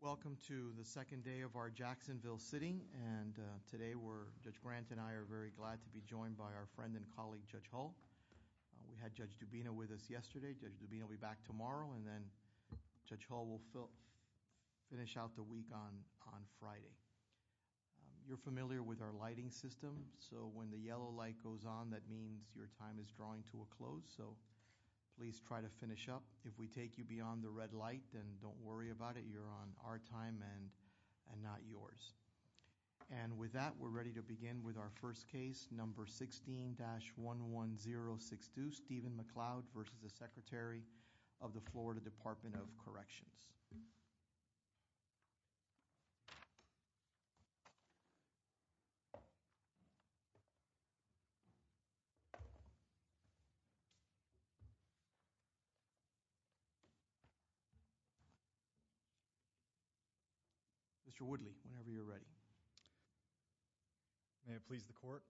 Welcome to the second day of our Jacksonville sitting and today we're Judge Grant and I are very glad to be joined by our friend and colleague Judge Hull. We had Judge Dubina with us yesterday. Judge Dubina will be back tomorrow and then Judge Hull will finish out the week on on Friday. You're familiar with our lighting system so when the yellow light goes on that means your time is drawing to a close so please try to finish up. If we take you beyond the red light then don't worry about it you're on our time and and not yours. And with that we're ready to begin with our first case number 16-11062 Stephen McLeod versus the Secretary of the Florida Department of Corrections. Mr. Woodley whenever you're ready. May it please the court.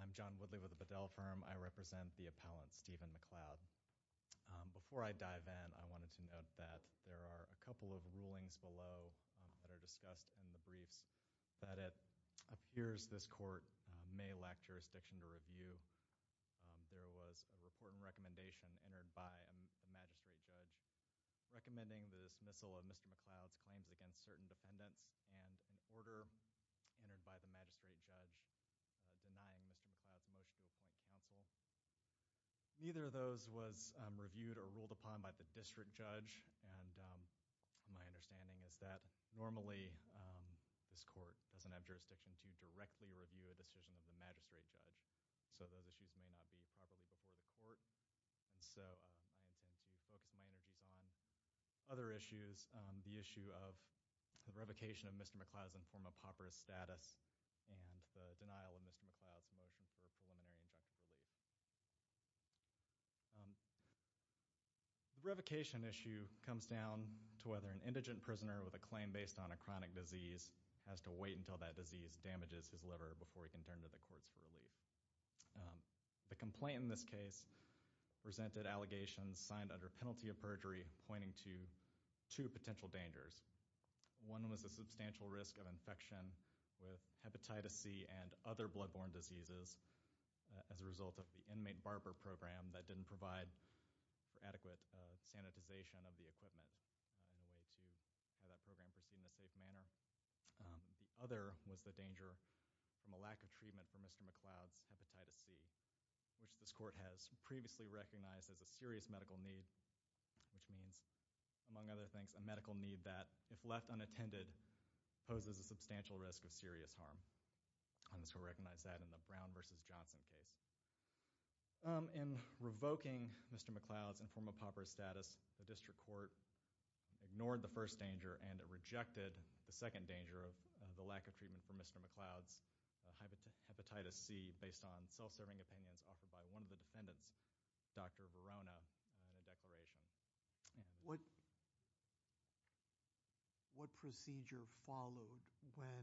I'm John Woodley with the Bedell firm. I represent the appellant Stephen McLeod. Before I dive in I wanted to note that there are a couple of rulings below that are discussed in the briefs that it appears this court may lack jurisdiction to recommending the dismissal of Mr. McLeod's claims against certain defendants and an order entered by the magistrate judge denying Mr. McLeod's motion to appoint counsel. Neither of those was reviewed or ruled upon by the district judge and my understanding is that normally this court doesn't have jurisdiction to directly review a decision of the magistrate judge so those issues may not be properly before the court and so I intend to focus my other issues on the issue of the revocation of Mr. McLeod's informal pauperous status and the denial of Mr. McLeod's motion for preliminary injunctive relief. The revocation issue comes down to whether an indigent prisoner with a claim based on a chronic disease has to wait until that disease damages his liver before he can turn to the courts for relief. The complaint in this case presented allegations signed under penalty of perjury pointing to two potential dangers. One was a substantial risk of infection with hepatitis C and other blood-borne diseases as a result of the inmate barber program that didn't provide for adequate sanitization of the equipment in a way to have that program proceed in a safe manner. The other was the danger from a lack of previously recognized as a serious medical need which means among other things a medical need that if left unattended poses a substantial risk of serious harm and this will recognize that in the Brown v. Johnson case. In revoking Mr. McLeod's informal pauperous status the district court ignored the first danger and it rejected the second danger of the lack of treatment for Mr. McLeod's hepatitis C based on self-serving opinions offered by one of the defendants, Dr. Verona, in a declaration. What procedure followed when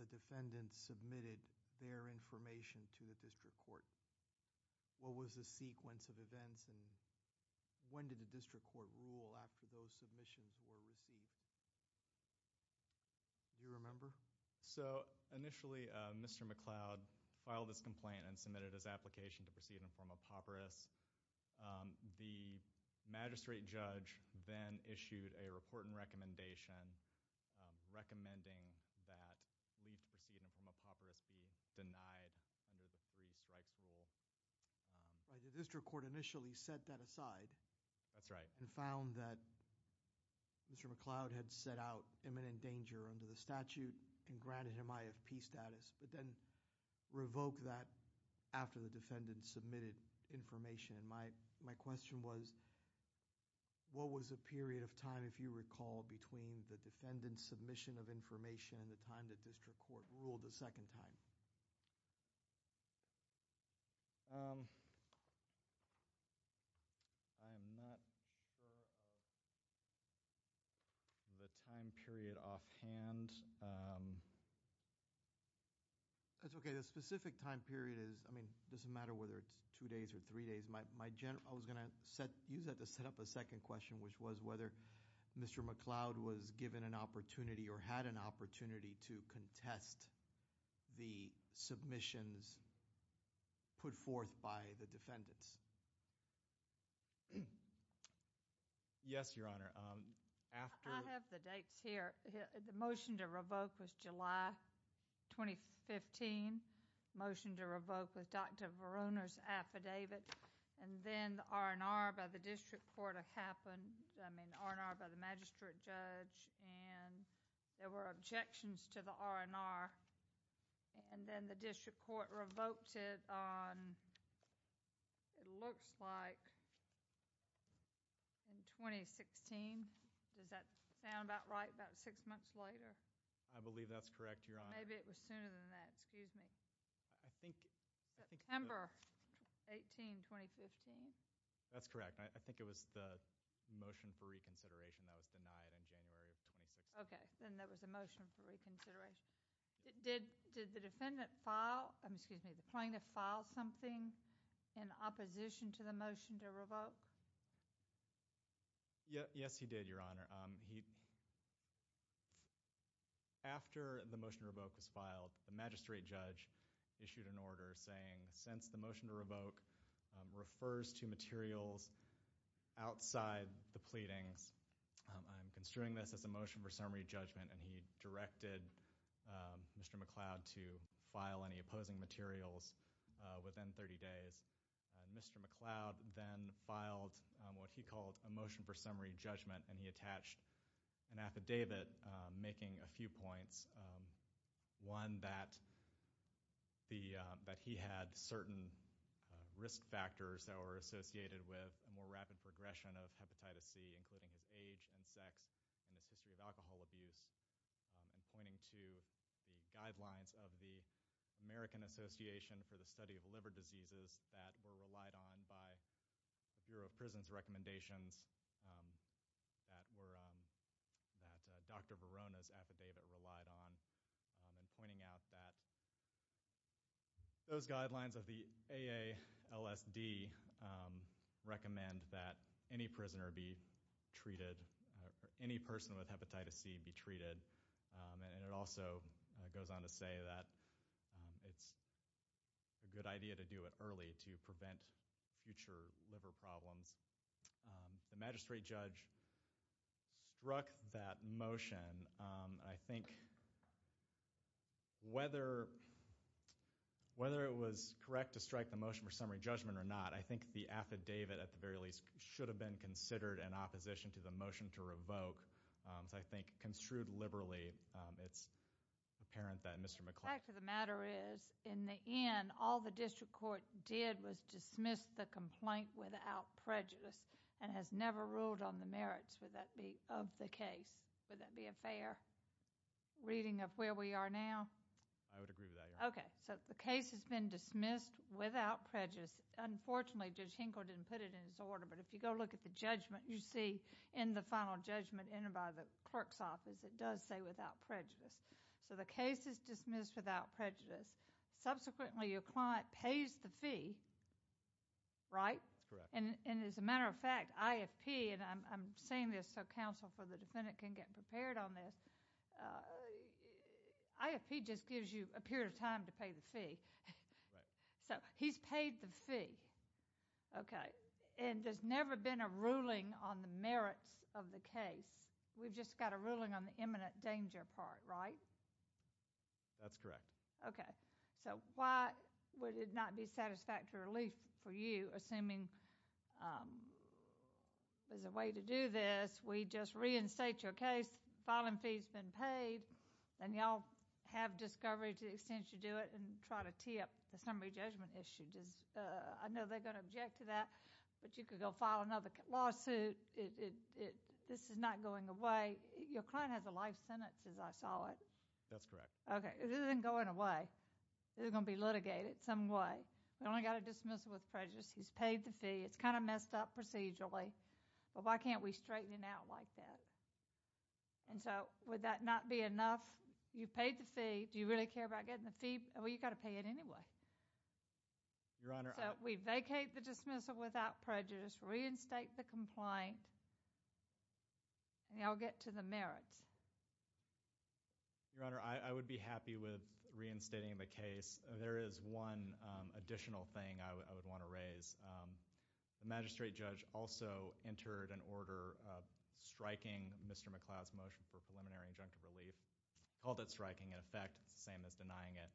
the defendants submitted their information to the district court? What was the sequence of events and when did the district court rule after those submissions were received? Do you remember? So initially Mr. McLeod filed this informal pauperous. The magistrate judge then issued a report and recommendation recommending that leave to proceed informal pauperous be denied under the three strikes rule. The district court initially set that aside. That's right. And found that Mr. McLeod had set out imminent danger under the statute and revoked that after the defendants submitted information. And my my question was what was a period of time if you recall between the defendants submission of information and the time the district court ruled the second time? I am not sure of the time period offhand. That's okay. The specific time period is I mean doesn't matter whether it's two days or three days. My general I was gonna set use that to set up a second question which was whether Mr. McLeod was given an opportunity or had an opportunity to contest the submissions put forth by the defendants. Yes your honor. The motion to revoke was July 2015 motion to revoke with Dr. Verona's affidavit and then the R&R by the district court happened I mean R&R by the magistrate judge and there were objections to the R&R and then the district court revoked it on it looks like in 2016. Does that sound about right about six months later? I believe that's correct your honor. Maybe it was sooner than that excuse me. I think September 18 2015. That's correct. I think it was the motion for reconsideration that was denied in January of 2016. Okay then there was a motion for reconsideration. Did the defendant file I'm excuse me the plaintiff file something in opposition to the motion to revoke? Yes he did your honor. After the motion to revoke was filed the magistrate judge issued an order saying since the motion to revoke refers to materials outside the pleadings I'm construing this as a motion for summary judgment and he directed Mr. McCloud to file any opposing materials within 30 days. Mr. McCloud then filed what he called a motion for summary judgment and he attached an affidavit making a few factors that were associated with a more rapid progression of hepatitis C including his age and sex and his history of alcohol abuse and pointing to the guidelines of the American Association for the Study of Liver Diseases that were relied on by the Bureau of Prisons recommendations that were that Dr. Verona's affidavit relied on and pointing out that those guidelines recommend that any prisoner be treated any person with hepatitis C be treated and it also goes on to say that it's a good idea to do it early to prevent future liver problems. The magistrate judge struck that motion. I think whether whether it was correct to strike the motion for summary judgment or not I think the affidavit at the very least should have been considered an opposition to the motion to revoke so I think construed liberally it's apparent that Mr. McCloud. The fact of the matter is in the end all the district court did was dismiss the complaint without prejudice and has never ruled on the merits would that be of the case would that be a fair reading of where we are now? I would unfortunately Judge Hinkle didn't put it in his order but if you go look at the judgment you see in the final judgment in and by the clerk's office it does say without prejudice so the case is dismissed without prejudice subsequently your client pays the fee right and as a matter of fact IFP and I'm saying this so counsel for the defendant can get prepared on this IFP just gives you a the fee okay and there's never been a ruling on the merits of the case we've just got a ruling on the imminent danger part right that's correct okay so why would it not be satisfactory relief for you assuming there's a way to do this we just reinstate your case filing fees been paid then y'all have discovery to do it and try to tip the summary judgment issued is I know they're gonna object to that but you could go file another lawsuit it this is not going away your client has a life sentence as I saw it that's correct okay isn't going away they're gonna be litigated some way we only got a dismissal with prejudice he's paid the fee it's kind of messed up procedurally but why can't we straighten it out like that and so would that not be enough you paid the fee do you really care about getting the fee well you got to pay it anyway your honor we vacate the dismissal without prejudice reinstate the complaint and y'all get to the merits your honor I would be happy with reinstating the case there is one additional thing I would want to raise the magistrate judge also entered an order striking mr. McLeod's motion for preliminary injunctive relief called it denying it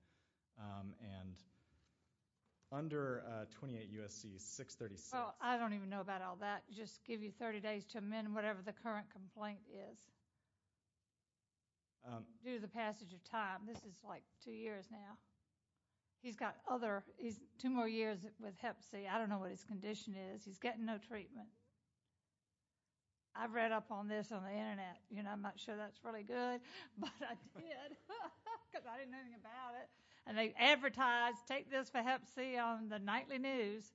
and under 28 USC 636 I don't even know about all that just give you 30 days to amend whatever the current complaint is do the passage of time this is like two years now he's got other is two more years with hep C I don't know what his condition is he's getting no treatment I've read up on this on the and they advertise take this for hep C on the nightly news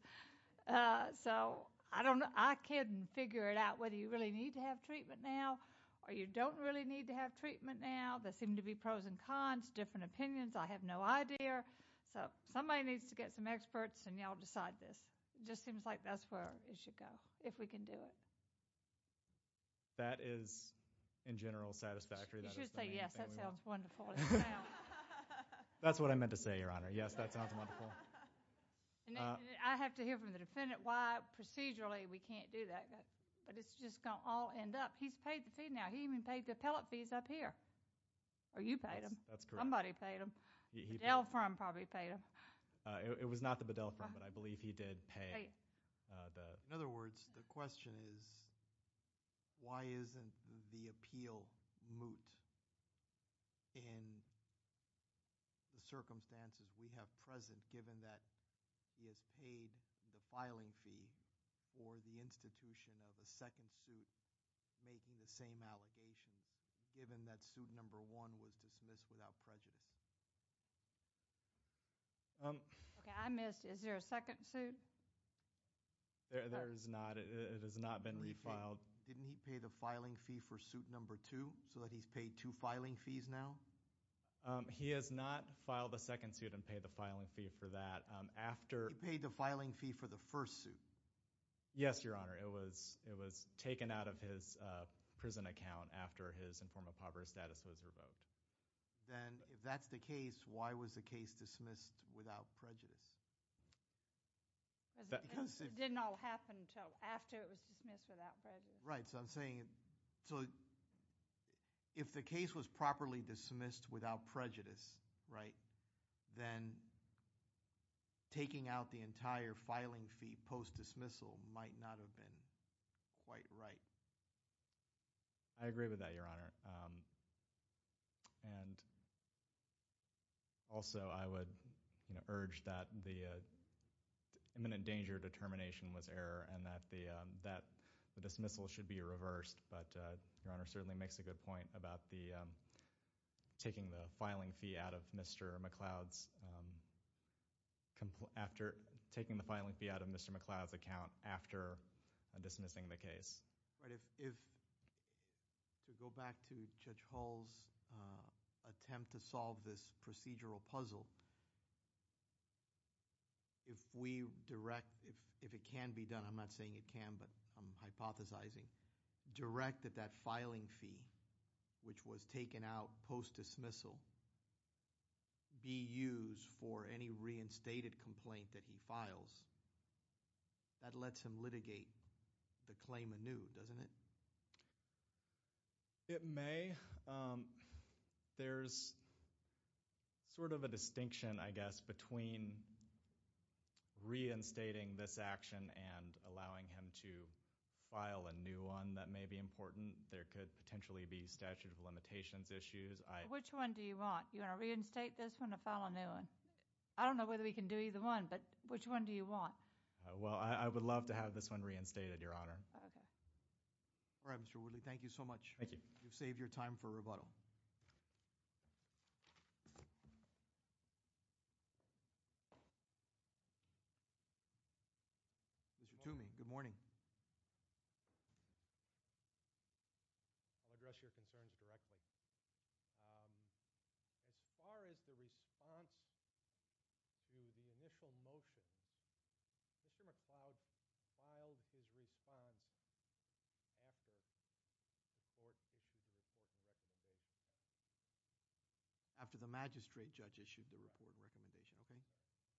so I don't know I couldn't figure it out whether you really need to have treatment now or you don't really need to have treatment now they seem to be pros and cons different opinions I have no idea so somebody needs to get some experts and y'all decide this just seems like that's where it should go if we can do it that is in that's what I meant to say your honor yes that sounds wonderful I have to hear from the defendant why procedurally we can't do that but it's just gonna all end up he's paid the fee now he even paid the appellate fees up here are you paying them that's somebody paid him he bailed from probably paid him it was not the Bedell from but I believe he did pay the in other words the question is why the circumstances we have present given that he has paid the filing fee or the institution of a second suit making the same allegations given that suit number one was dismissed without prejudice I missed is there a second suit there is not it has not been refiled didn't he pay the filing fee for suit number two so that he's paid to filing fees now he has not filed a second suit and pay the filing fee for that after paid the filing fee for the first suit yes your honor it was it was taken out of his prison account after his informal poverty status was revoked then if that's the case why was the case dismissed without prejudice right so I'm saying it so if the case was properly dismissed without prejudice right then taking out the entire filing fee post dismissal might not have been quite right I agree with that your honor and also I would urge that the imminent danger determination was error and that the that the dismissal should be reversed but your honor certainly makes a good point about the taking the filing fee out of mr. McLeod's after taking the filing fee out of mr. McLeod's account after dismissing the case right if to go back to judge Hall's attempt to solve this procedural puzzle if we direct if if it can be done I'm not saying it can but I'm hypothesizing direct that that filing fee which was taken out post dismissal be used for any reinstated complaint that he files that lets him litigate the claim anew doesn't it it may there's sort of a distinction I allowing him to file a new one that may be important there could potentially be statute of limitations issues I which one do you want you know reinstate this one to file a new one I don't know whether we can do either one but which one do you want well I would love to have this one reinstated your honor all right mr. Woodley thank you so much thank you you've saved your time for mr. to me good morning I'll address your concerns directly as far as the response to the initial motion after the magistrate judge issued the report recommendation okay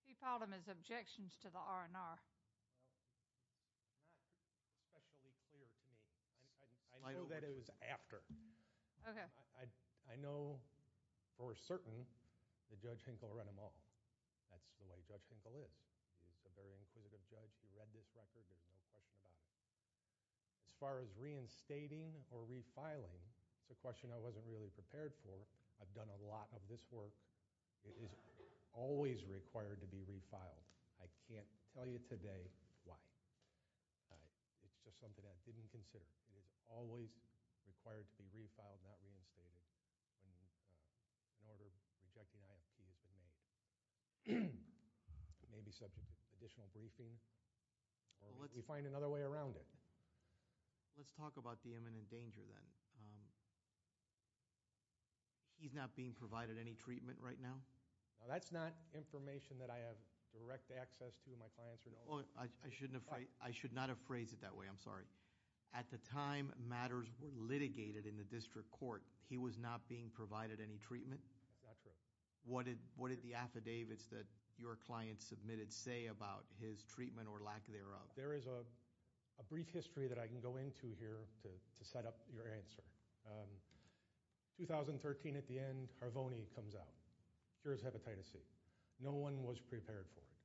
he found him objections to the R&R I know that it was after okay I I know for certain the judge Hinkle run them all that's the way judge Hinkle is as far as reinstating or refiling it's a question I wasn't really prepared for I've done a lot of this work it is always required to be refiled I can't tell you today why it's just something that didn't consider it is always required to be refiled not reinstated maybe subject to additional briefing let me find another way around it let's talk about the imminent danger then he's not being provided any treatment right now that's not information that I have direct access to my clients or no I shouldn't afraid I should not have phrased it that way I'm sorry at the time matters were litigated in the district court he was not being provided any treatment what did what did the affidavits that your clients submitted say about his treatment or lack thereof there is a brief history that I can go into here to set up your answer 2013 at the end Harvoni comes out here's hepatitis C no one was prepared for it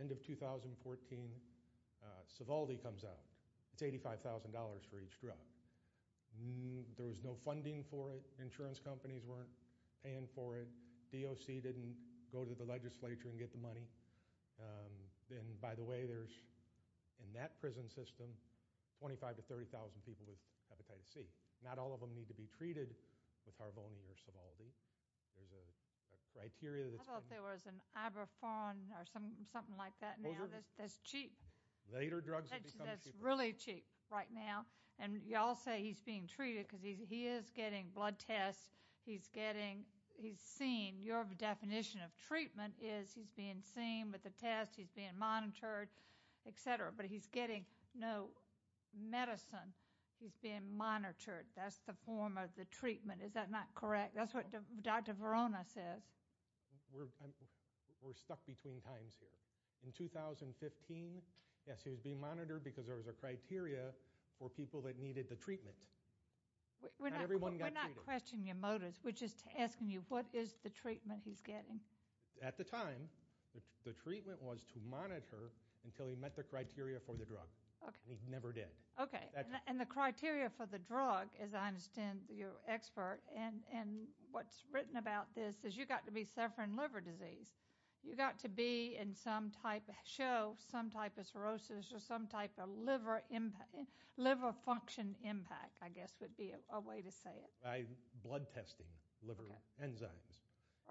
end of 2014 Sovaldi comes out it's $85,000 for each drug there was no funding for it insurance companies weren't paying for it didn't go to the legislature and get the money then by the way there's in that prison system 25 to 30,000 people with hepatitis C not all of them need to be treated with Harvoni or Sovaldi there's a criteria that there was an Iberphone or some something like that this cheap later drugs that's really cheap right now and y'all say he's being treated because he is getting blood tests he's getting he's seen your definition of treatment is he's being seen with the test he's being monitored etc but he's getting no medicine he's being monitored that's the form of the treatment is that not correct that's what dr. Verona says we're stuck between times here in 2015 yes he was being monitored because there was a criteria for people that needed the treatment we're not questioning your motives which is to asking you what is the treatment he's getting at the time the treatment was to monitor until he met the criteria for the drug okay he never did okay and the criteria for the drug as I understand your expert and and what's written about this is you got to be suffering liver disease you got to be in some type of show some type of cirrhosis or some type of liver liver function impact I guess would be a way to say it I blood testing liver enzymes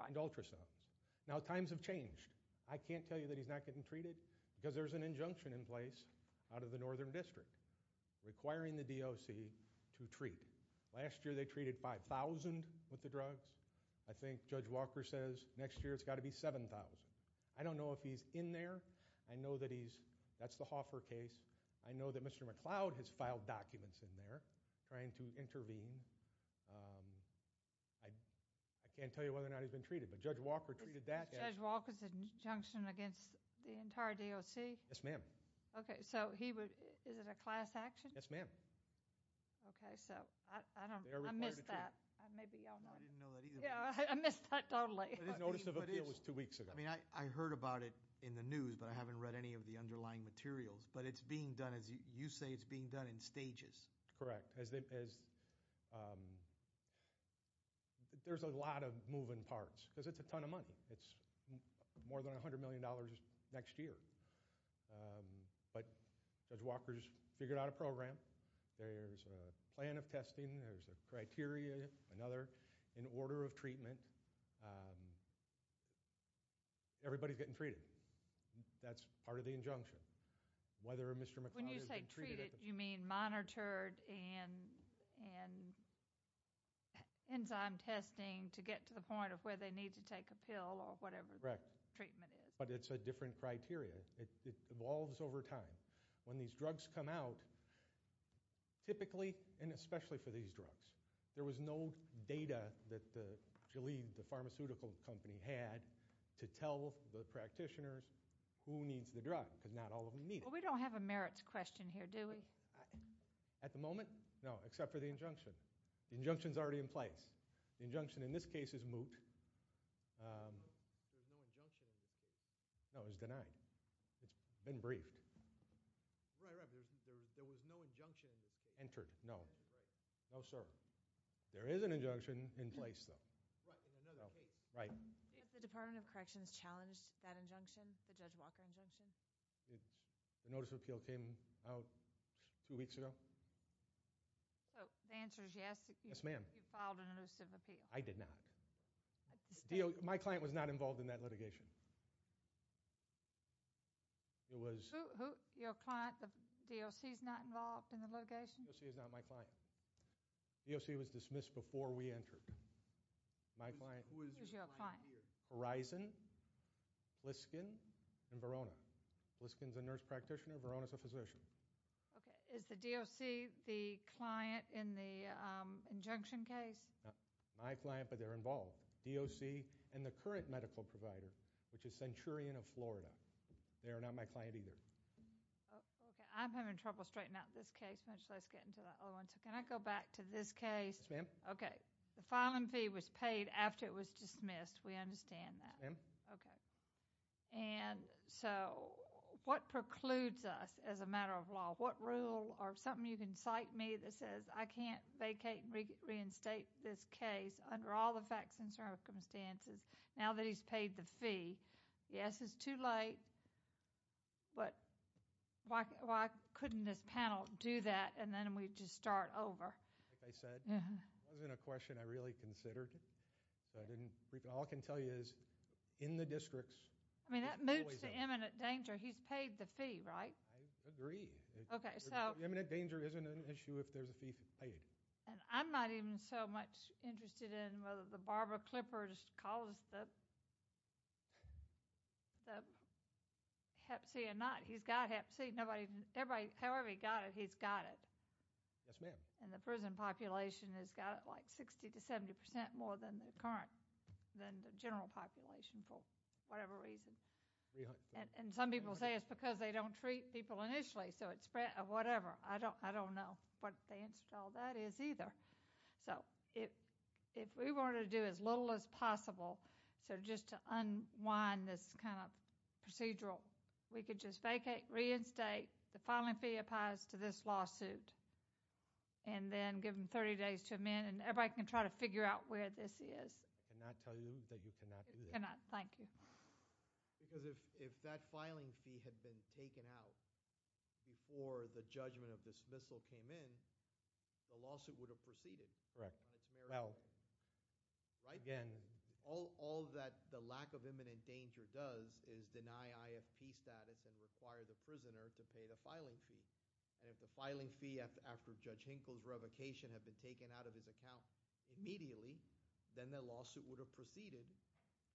and ultrasounds now times have changed I can't tell you that he's not getting treated because there's an injunction in place out of the northern district requiring the DOC to treat last year they treated 5,000 with the drugs I think judge Walker says next year it's got to be 7,000 I don't know if he's in there I know that he's that's the Hoffer case I know that mr. McLeod has filed documents in there trying to intervene I I can't tell you whether or not he's been treated but judge Walker treated that walkers injunction against the entire DOC yes ma'am okay so he would is it a class action yes ma'am okay so I heard about it in the news but I haven't read any of the underlying materials but it's being done as you say it's being done in stages correct as there's a lot of moving parts because it's a ton of money it's more than a hundred million dollars next year but judge Walker's figured out a program there's a plan of testing there's a criteria another in order of treatment everybody's getting treated that's part of the injunction whether mr. McLeod you mean monitored and and enzyme testing to get to the point of where they need to take a pill or whatever correct treatment is but it's a different criteria it evolves over time when these drugs come out typically and especially for these drugs there was no data that the believed the pharmaceutical company had to tell the practitioners who needs the drug because not all of them need it we don't have a merits question here do we at the moment no except for the injunction the injunction is already in place the injunction in this case is moot no it's denied it's been briefed entered no no sir there is an injunction in place though right the Department of Corrections challenged that injunction the judge Walker injunction it's the notice of appeal came out two weeks ago yes ma'am I did not my client was not involved in that litigation it was your client the DLC is not involved in the litigation she is not my client yes he was dismissed before we entered my client horizon Liskin and Verona Liskins a nurse practitioner Verona's a physician okay is the DLC the client in the injunction case my client but they're involved DOC and the current medical provider which is centurion of Florida they are not my client either I'm having trouble straightening out this case much less get into that one so can I go back to this case ma'am okay the filing fee was okay and so what precludes us as a matter of law what rule or something you can cite me that says I can't vacate reinstate this case under all the facts and circumstances now that he's paid the fee yes it's too late but why couldn't this panel do that and then we just start over I said yeah I was in a in the districts I mean that moves to imminent danger he's paid the fee right I agree okay so imminent danger isn't an issue if there's a fee paid and I'm not even so much interested in whether the Barbara Clippers calls the hep C or not he's got hep C nobody everybody however he got it he's got it yes ma'am and the prison population has got like 60 to 70 percent more than the current than the whatever reason and some people say it's because they don't treat people initially so it's whatever I don't I don't know but they installed that is either so if if we wanted to do as little as possible so just to unwind this kind of procedural we could just vacate reinstate the filing fee applies to this lawsuit and then give them 30 days to amend and everybody can try to thank you because if that filing fee had been taken out before the judgment of dismissal came in the lawsuit would have proceeded correct well right again all all that the lack of imminent danger does is deny IFP status and require the prisoner to pay the filing fee and if the filing fee after judge Hinkle's revocation have been taken out of his account immediately then the lawsuit would have proceeded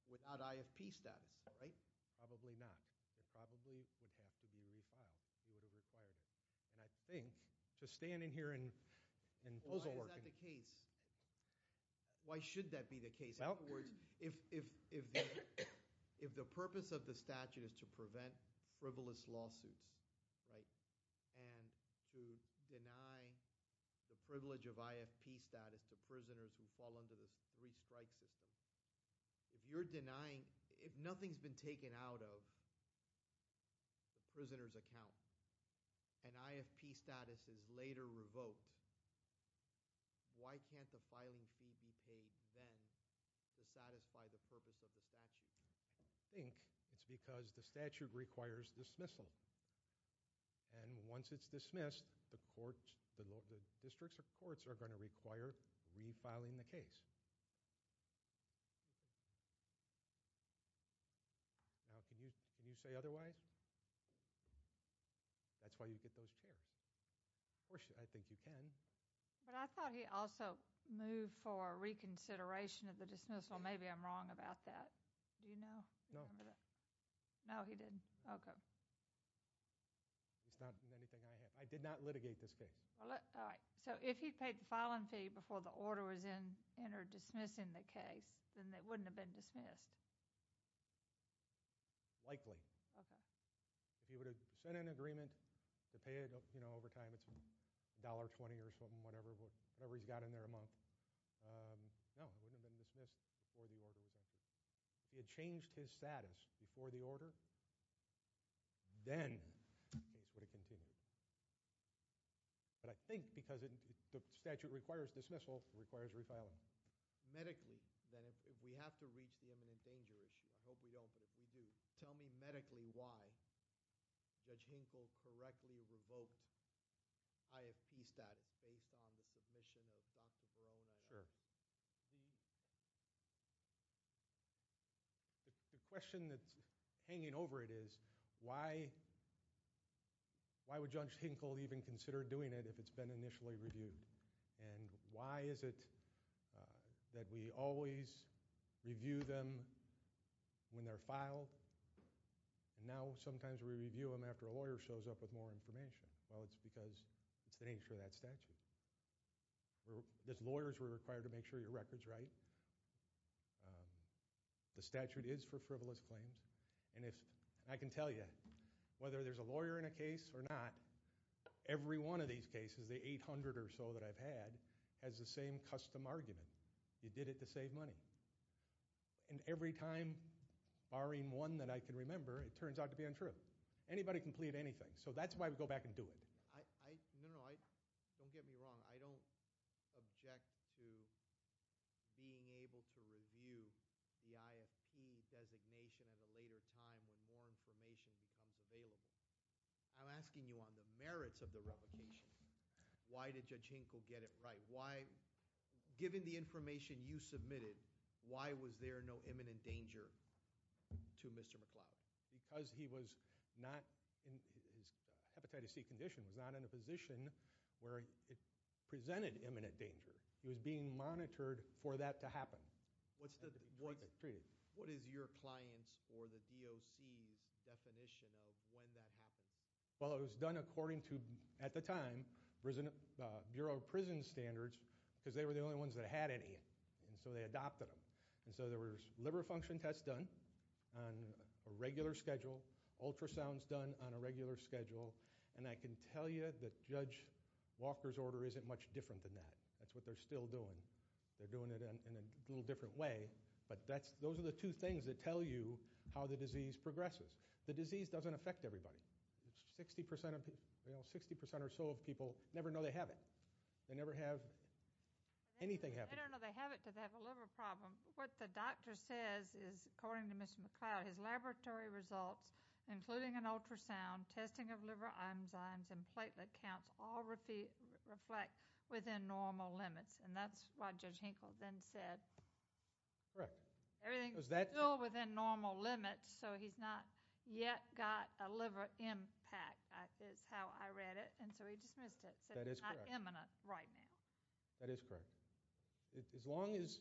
without IFP status right probably not it probably would have to be refiled you would have required it and I think to stand in here and and also working the case why should that be the case outwards if if if the purpose of the statute is to prevent frivolous lawsuits right and to deny the if you're denying if nothing's been taken out of the prisoners account and IFP status is later revoked why can't the filing fee be paid then to satisfy the purpose of the statute think it's because the statute requires dismissal and once it's dismissed the court the districts of courts are going to require refiling the case now can you can you say otherwise that's why you get those chairs of course I think you can but I thought he also moved for reconsideration of the dismissal maybe I'm wrong about that do you know no no he didn't okay it's not anything I have I did not litigate this case all right so if he paid the filing fee before the order was in enter dismissing the case then that wouldn't have been dismissed likely okay if you were to send an agreement to pay it up you know over time it's a dollar twenty or something whatever whatever he's got in there a month he had changed his status before the order then but I think because it the statute requires dismissal requires refiling medically then if we have to reach the imminent danger issue I hope we don't but if we do tell me medically why judge Hinkle correctly revoked I have peace that is based on the submission of dr. Barone sure the question that's hanging over it is why why would judge Hinkle even consider doing it if it's been initially reviewed and why is it that we always review them when they're filed and now sometimes we review them after a lawyer shows up with more information well it's because it's the nature of that statute this lawyers were required to make sure your records right the statute is for frivolous claims and if I can tell you whether there's a lawyer in a case or not every one of these cases the 800 or so that I've had has the same custom argument you did it to save money and every time barring one that I can remember it turns out to be untrue anybody can plead anything so that's why we go back and do it I don't object to being able to review the IFP designation at a later time when more information becomes available I'm asking you on the merits of the replication why did judge Hinkle get it right why given the information you submitted why was there no imminent danger to mr. McLeod because he was not in his hepatitis C condition was not in a position where it presented imminent danger he was being monitored for that to happen what's the what what is your clients or the DOC's definition of when that happens well it was done according to at the time prison Bureau of Prison Standards because they were the only ones that had any and so they adopted them and so there was liver function tests done on a regular schedule ultrasounds done on a regular schedule and I can tell you that judge Walker's order isn't much different than that that's what they're still doing they're doing it in a little different way but that's those are the two things that tell you how the disease progresses the disease doesn't affect everybody it's 60% of people you know 60% or so of people never know they have it they never have anything happen a liver problem what the doctor says is according to mr. McLeod his laboratory results including an ultrasound testing of liver enzymes and platelet counts all repeat reflect within normal limits and that's why judge Hinkle then said correct everything was that still within normal limits so he's not yet got a liver impact is how I read it and so he just missed it that is imminent right now that is correct as long as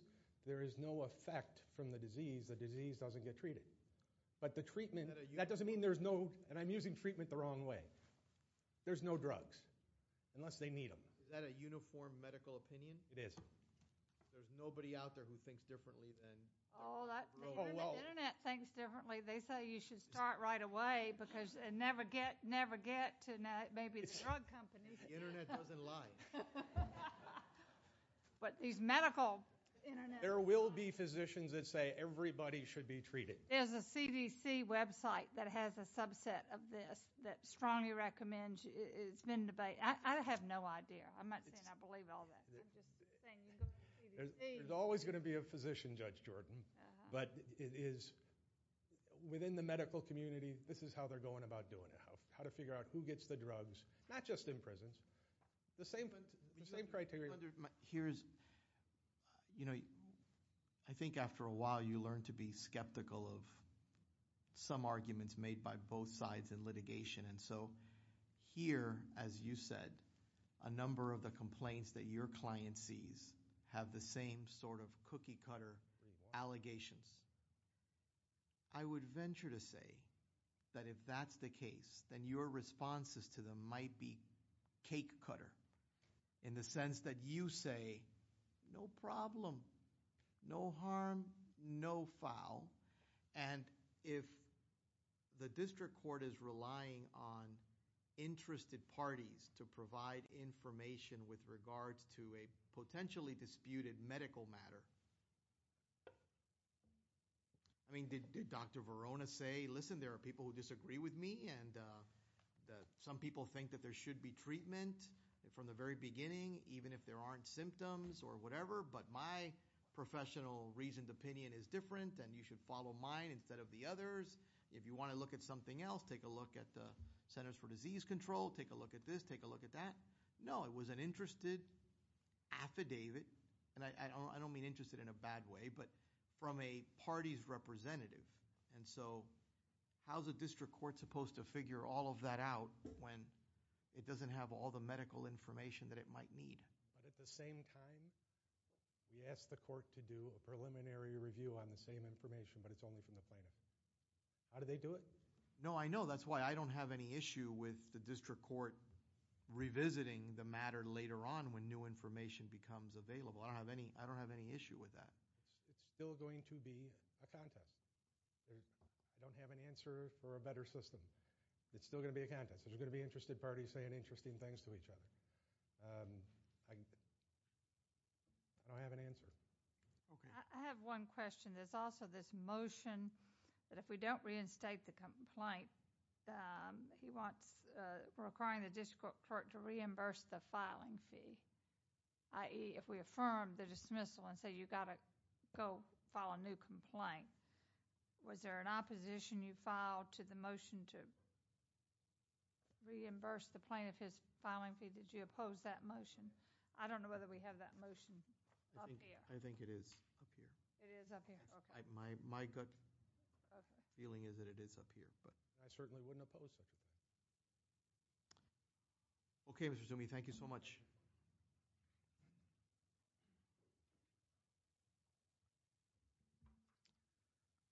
there is no effect from the disease the disease doesn't get treated but the treatment that doesn't mean there's no and I'm using treatment the wrong way there's no drugs unless they need them is that a uniform medical opinion it is there's nobody out there who thinks differently than they say you should start right away because and never get to know maybe but these medical there will be physicians that say everybody should be treated there's a CDC website that has a subset of this that strongly recommends it's been debate I have no idea I might believe all that there's always going to be a physician judge Jordan but it is within the medical community this is how they're going about doing it how to figure out who gets the drugs not just in prisons the same but the same criteria here's you know I think after a while you learn to be skeptical of some arguments made by both sides and litigation and so here as you said a number of the complaints that your client sees have the same sort of cookie cutter allegations I would venture to say that if that's the case then your responses to them might be cake cutter in the sense that you say no problem no harm no foul and if the district court is relying on interested parties to provide information with want to say listen there are people who disagree with me and some people think that there should be treatment from the very beginning even if there aren't symptoms or whatever but my professional reasoned opinion is different and you should follow mine instead of the others if you want to look at something else take a look at the Centers for Disease Control take a look at this take a look at that no it was an interested affidavit and I don't mean interested in a bad way but from a party's representative and so how's a district court supposed to figure all of that out when it doesn't have all the medical information that it might need but at the same time we asked the court to do a preliminary review on the same information but it's only from the plaintiff how do they do it no I know that's why I don't have any issue with the district court revisiting the matter later on when new information becomes available I don't have any I don't have any issue with that it's still going to be a contest I don't have an answer for a better system it's still gonna be a contest there's gonna be interested parties saying interesting things to each other I don't have an answer okay I have one question there's also this motion but if we don't reinstate the complaint he wants requiring the district court to reimburse the filing fee ie if we affirm the dismissal and say you got to go file a new complaint was there an opposition you filed to the motion to reimburse the plaintiff his filing fee did you oppose that motion I don't know whether we have that motion I think it is my gut feeling is that it is up here but I certainly wouldn't oppose such a thing okay Mr. Zumi thank you so much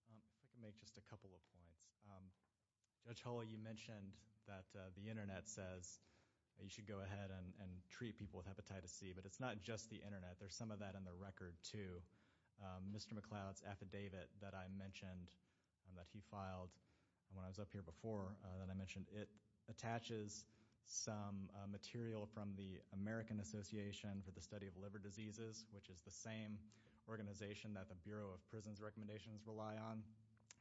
I can make just a couple of points Judge Hull you mentioned that the internet says you should go ahead and treat people with hepatitis C but it's not just the internet there's some of that in the record to Mr. McLeod's affidavit that I mentioned and that he filed when I was up here before that I mentioned it attaches some material from the American Association for the Study of Liver Diseases which is the same organization that the Bureau of Prisons recommendations rely on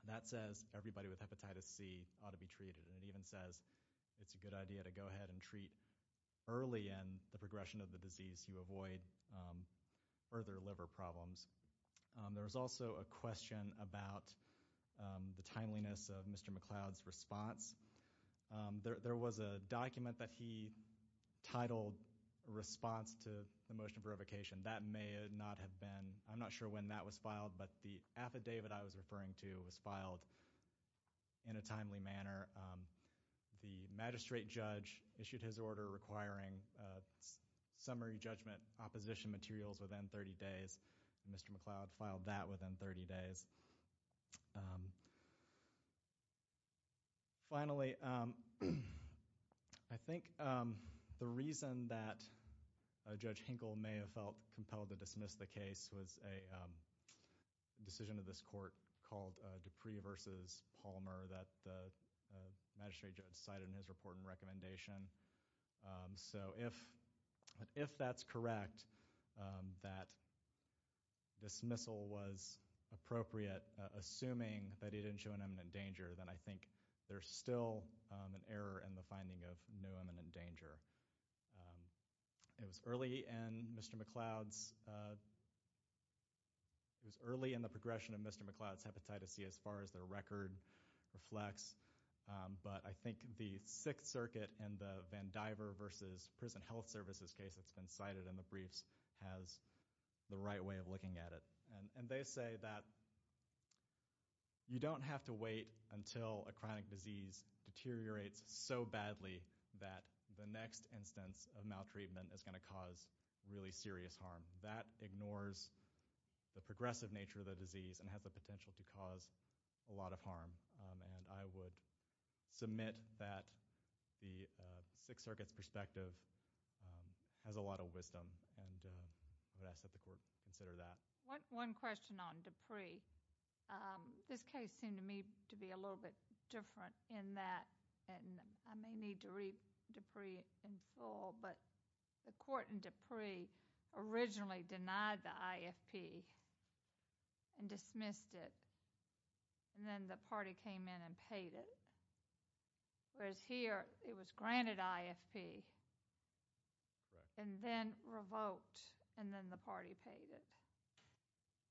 that says everybody with hepatitis C ought to be treated and it even says it's a good idea to go ahead and treat early and the progression of the disease you avoid further liver problems there was also a question about the timeliness of Mr. McLeod's response there was a document that he titled response to the motion for revocation that may not have been I'm not sure when that was filed but the affidavit I was referring to was filed in a timely manner the magistrate judge issued his order requiring summary judgment opposition materials within 30 days Mr. McLeod filed that within 30 days finally I think the reason that Judge Hinkle may have felt compelled to dismiss the case was a decision of this court called Dupree versus Palmer that the magistrate judge cited in his report and recommendation so if if that's correct that dismissal was appropriate assuming that he didn't show an imminent danger then I think there's still an error in the finding of new imminent danger it was early and Mr. McLeod's it was early in the progression of Mr. McLeod's hepatitis C as far as their record reflects but I think the Sixth Circuit and the Van Diver versus Prison Health Services case that's been cited in the briefs has the right way of looking at it and they say that you don't have to wait until a chronic disease deteriorates so badly that the next instance of maltreatment is going to cause really serious harm that ignores the progressive nature of the disease and has the potential to cause a lot of harm and I would submit that the Sixth Circuit's perspective has a lot of that and I would ask that the court consider that. One question on Dupree. This case seemed to me to be a little bit different in that I may need to read Dupree in full but the court in Dupree originally denied the IFP and dismissed it and then the party came in and paid it whereas here it was granted IFP and then revoked and then the party paid it.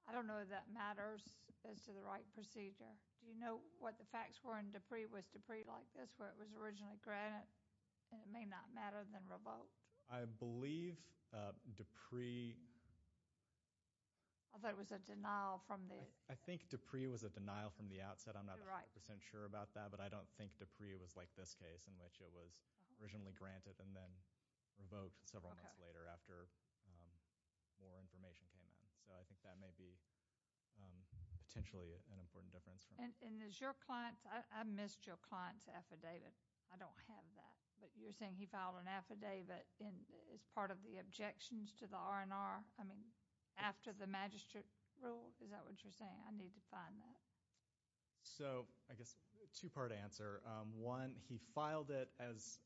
I don't know if that matters as to the right procedure. Do you know what the facts were in Dupree? Was Dupree like this where it was originally granted and it may not matter than revoked? I believe Dupree I thought it was a denial from the I think Dupree was a denial from the outset I'm not right percent sure about that but I don't think Dupree was like this case in which it was originally granted and then revoked several months later after more information came in so I think that may be potentially an important difference for me. And is your client's I missed your client's affidavit. I don't have that but you're saying he filed an affidavit as part of the objections to the R&R I mean after the magistrate rule is that what you're saying? I need to find that. So I guess two part answer. One he filed it as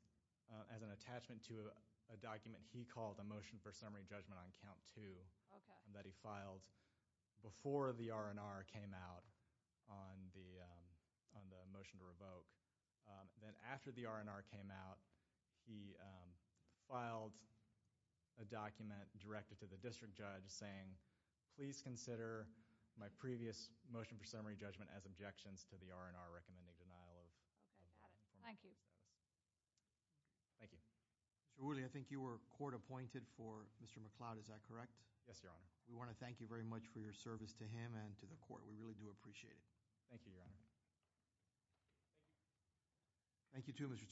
an attachment to a document he called a motion for summary judgment on count two that he filed before the R&R came out on the motion to revoke then after the R&R came out he filed a document directed to the district judge saying please consider my previous motion for summary judgment as objections to the R&R recommending denial of thank you thank you surely I think you were court appointed for mr. McLeod is that correct yes your honor we want to thank you very much for your service to him and to the court we really do appreciate it thank you your honor thank you to mr. Toomey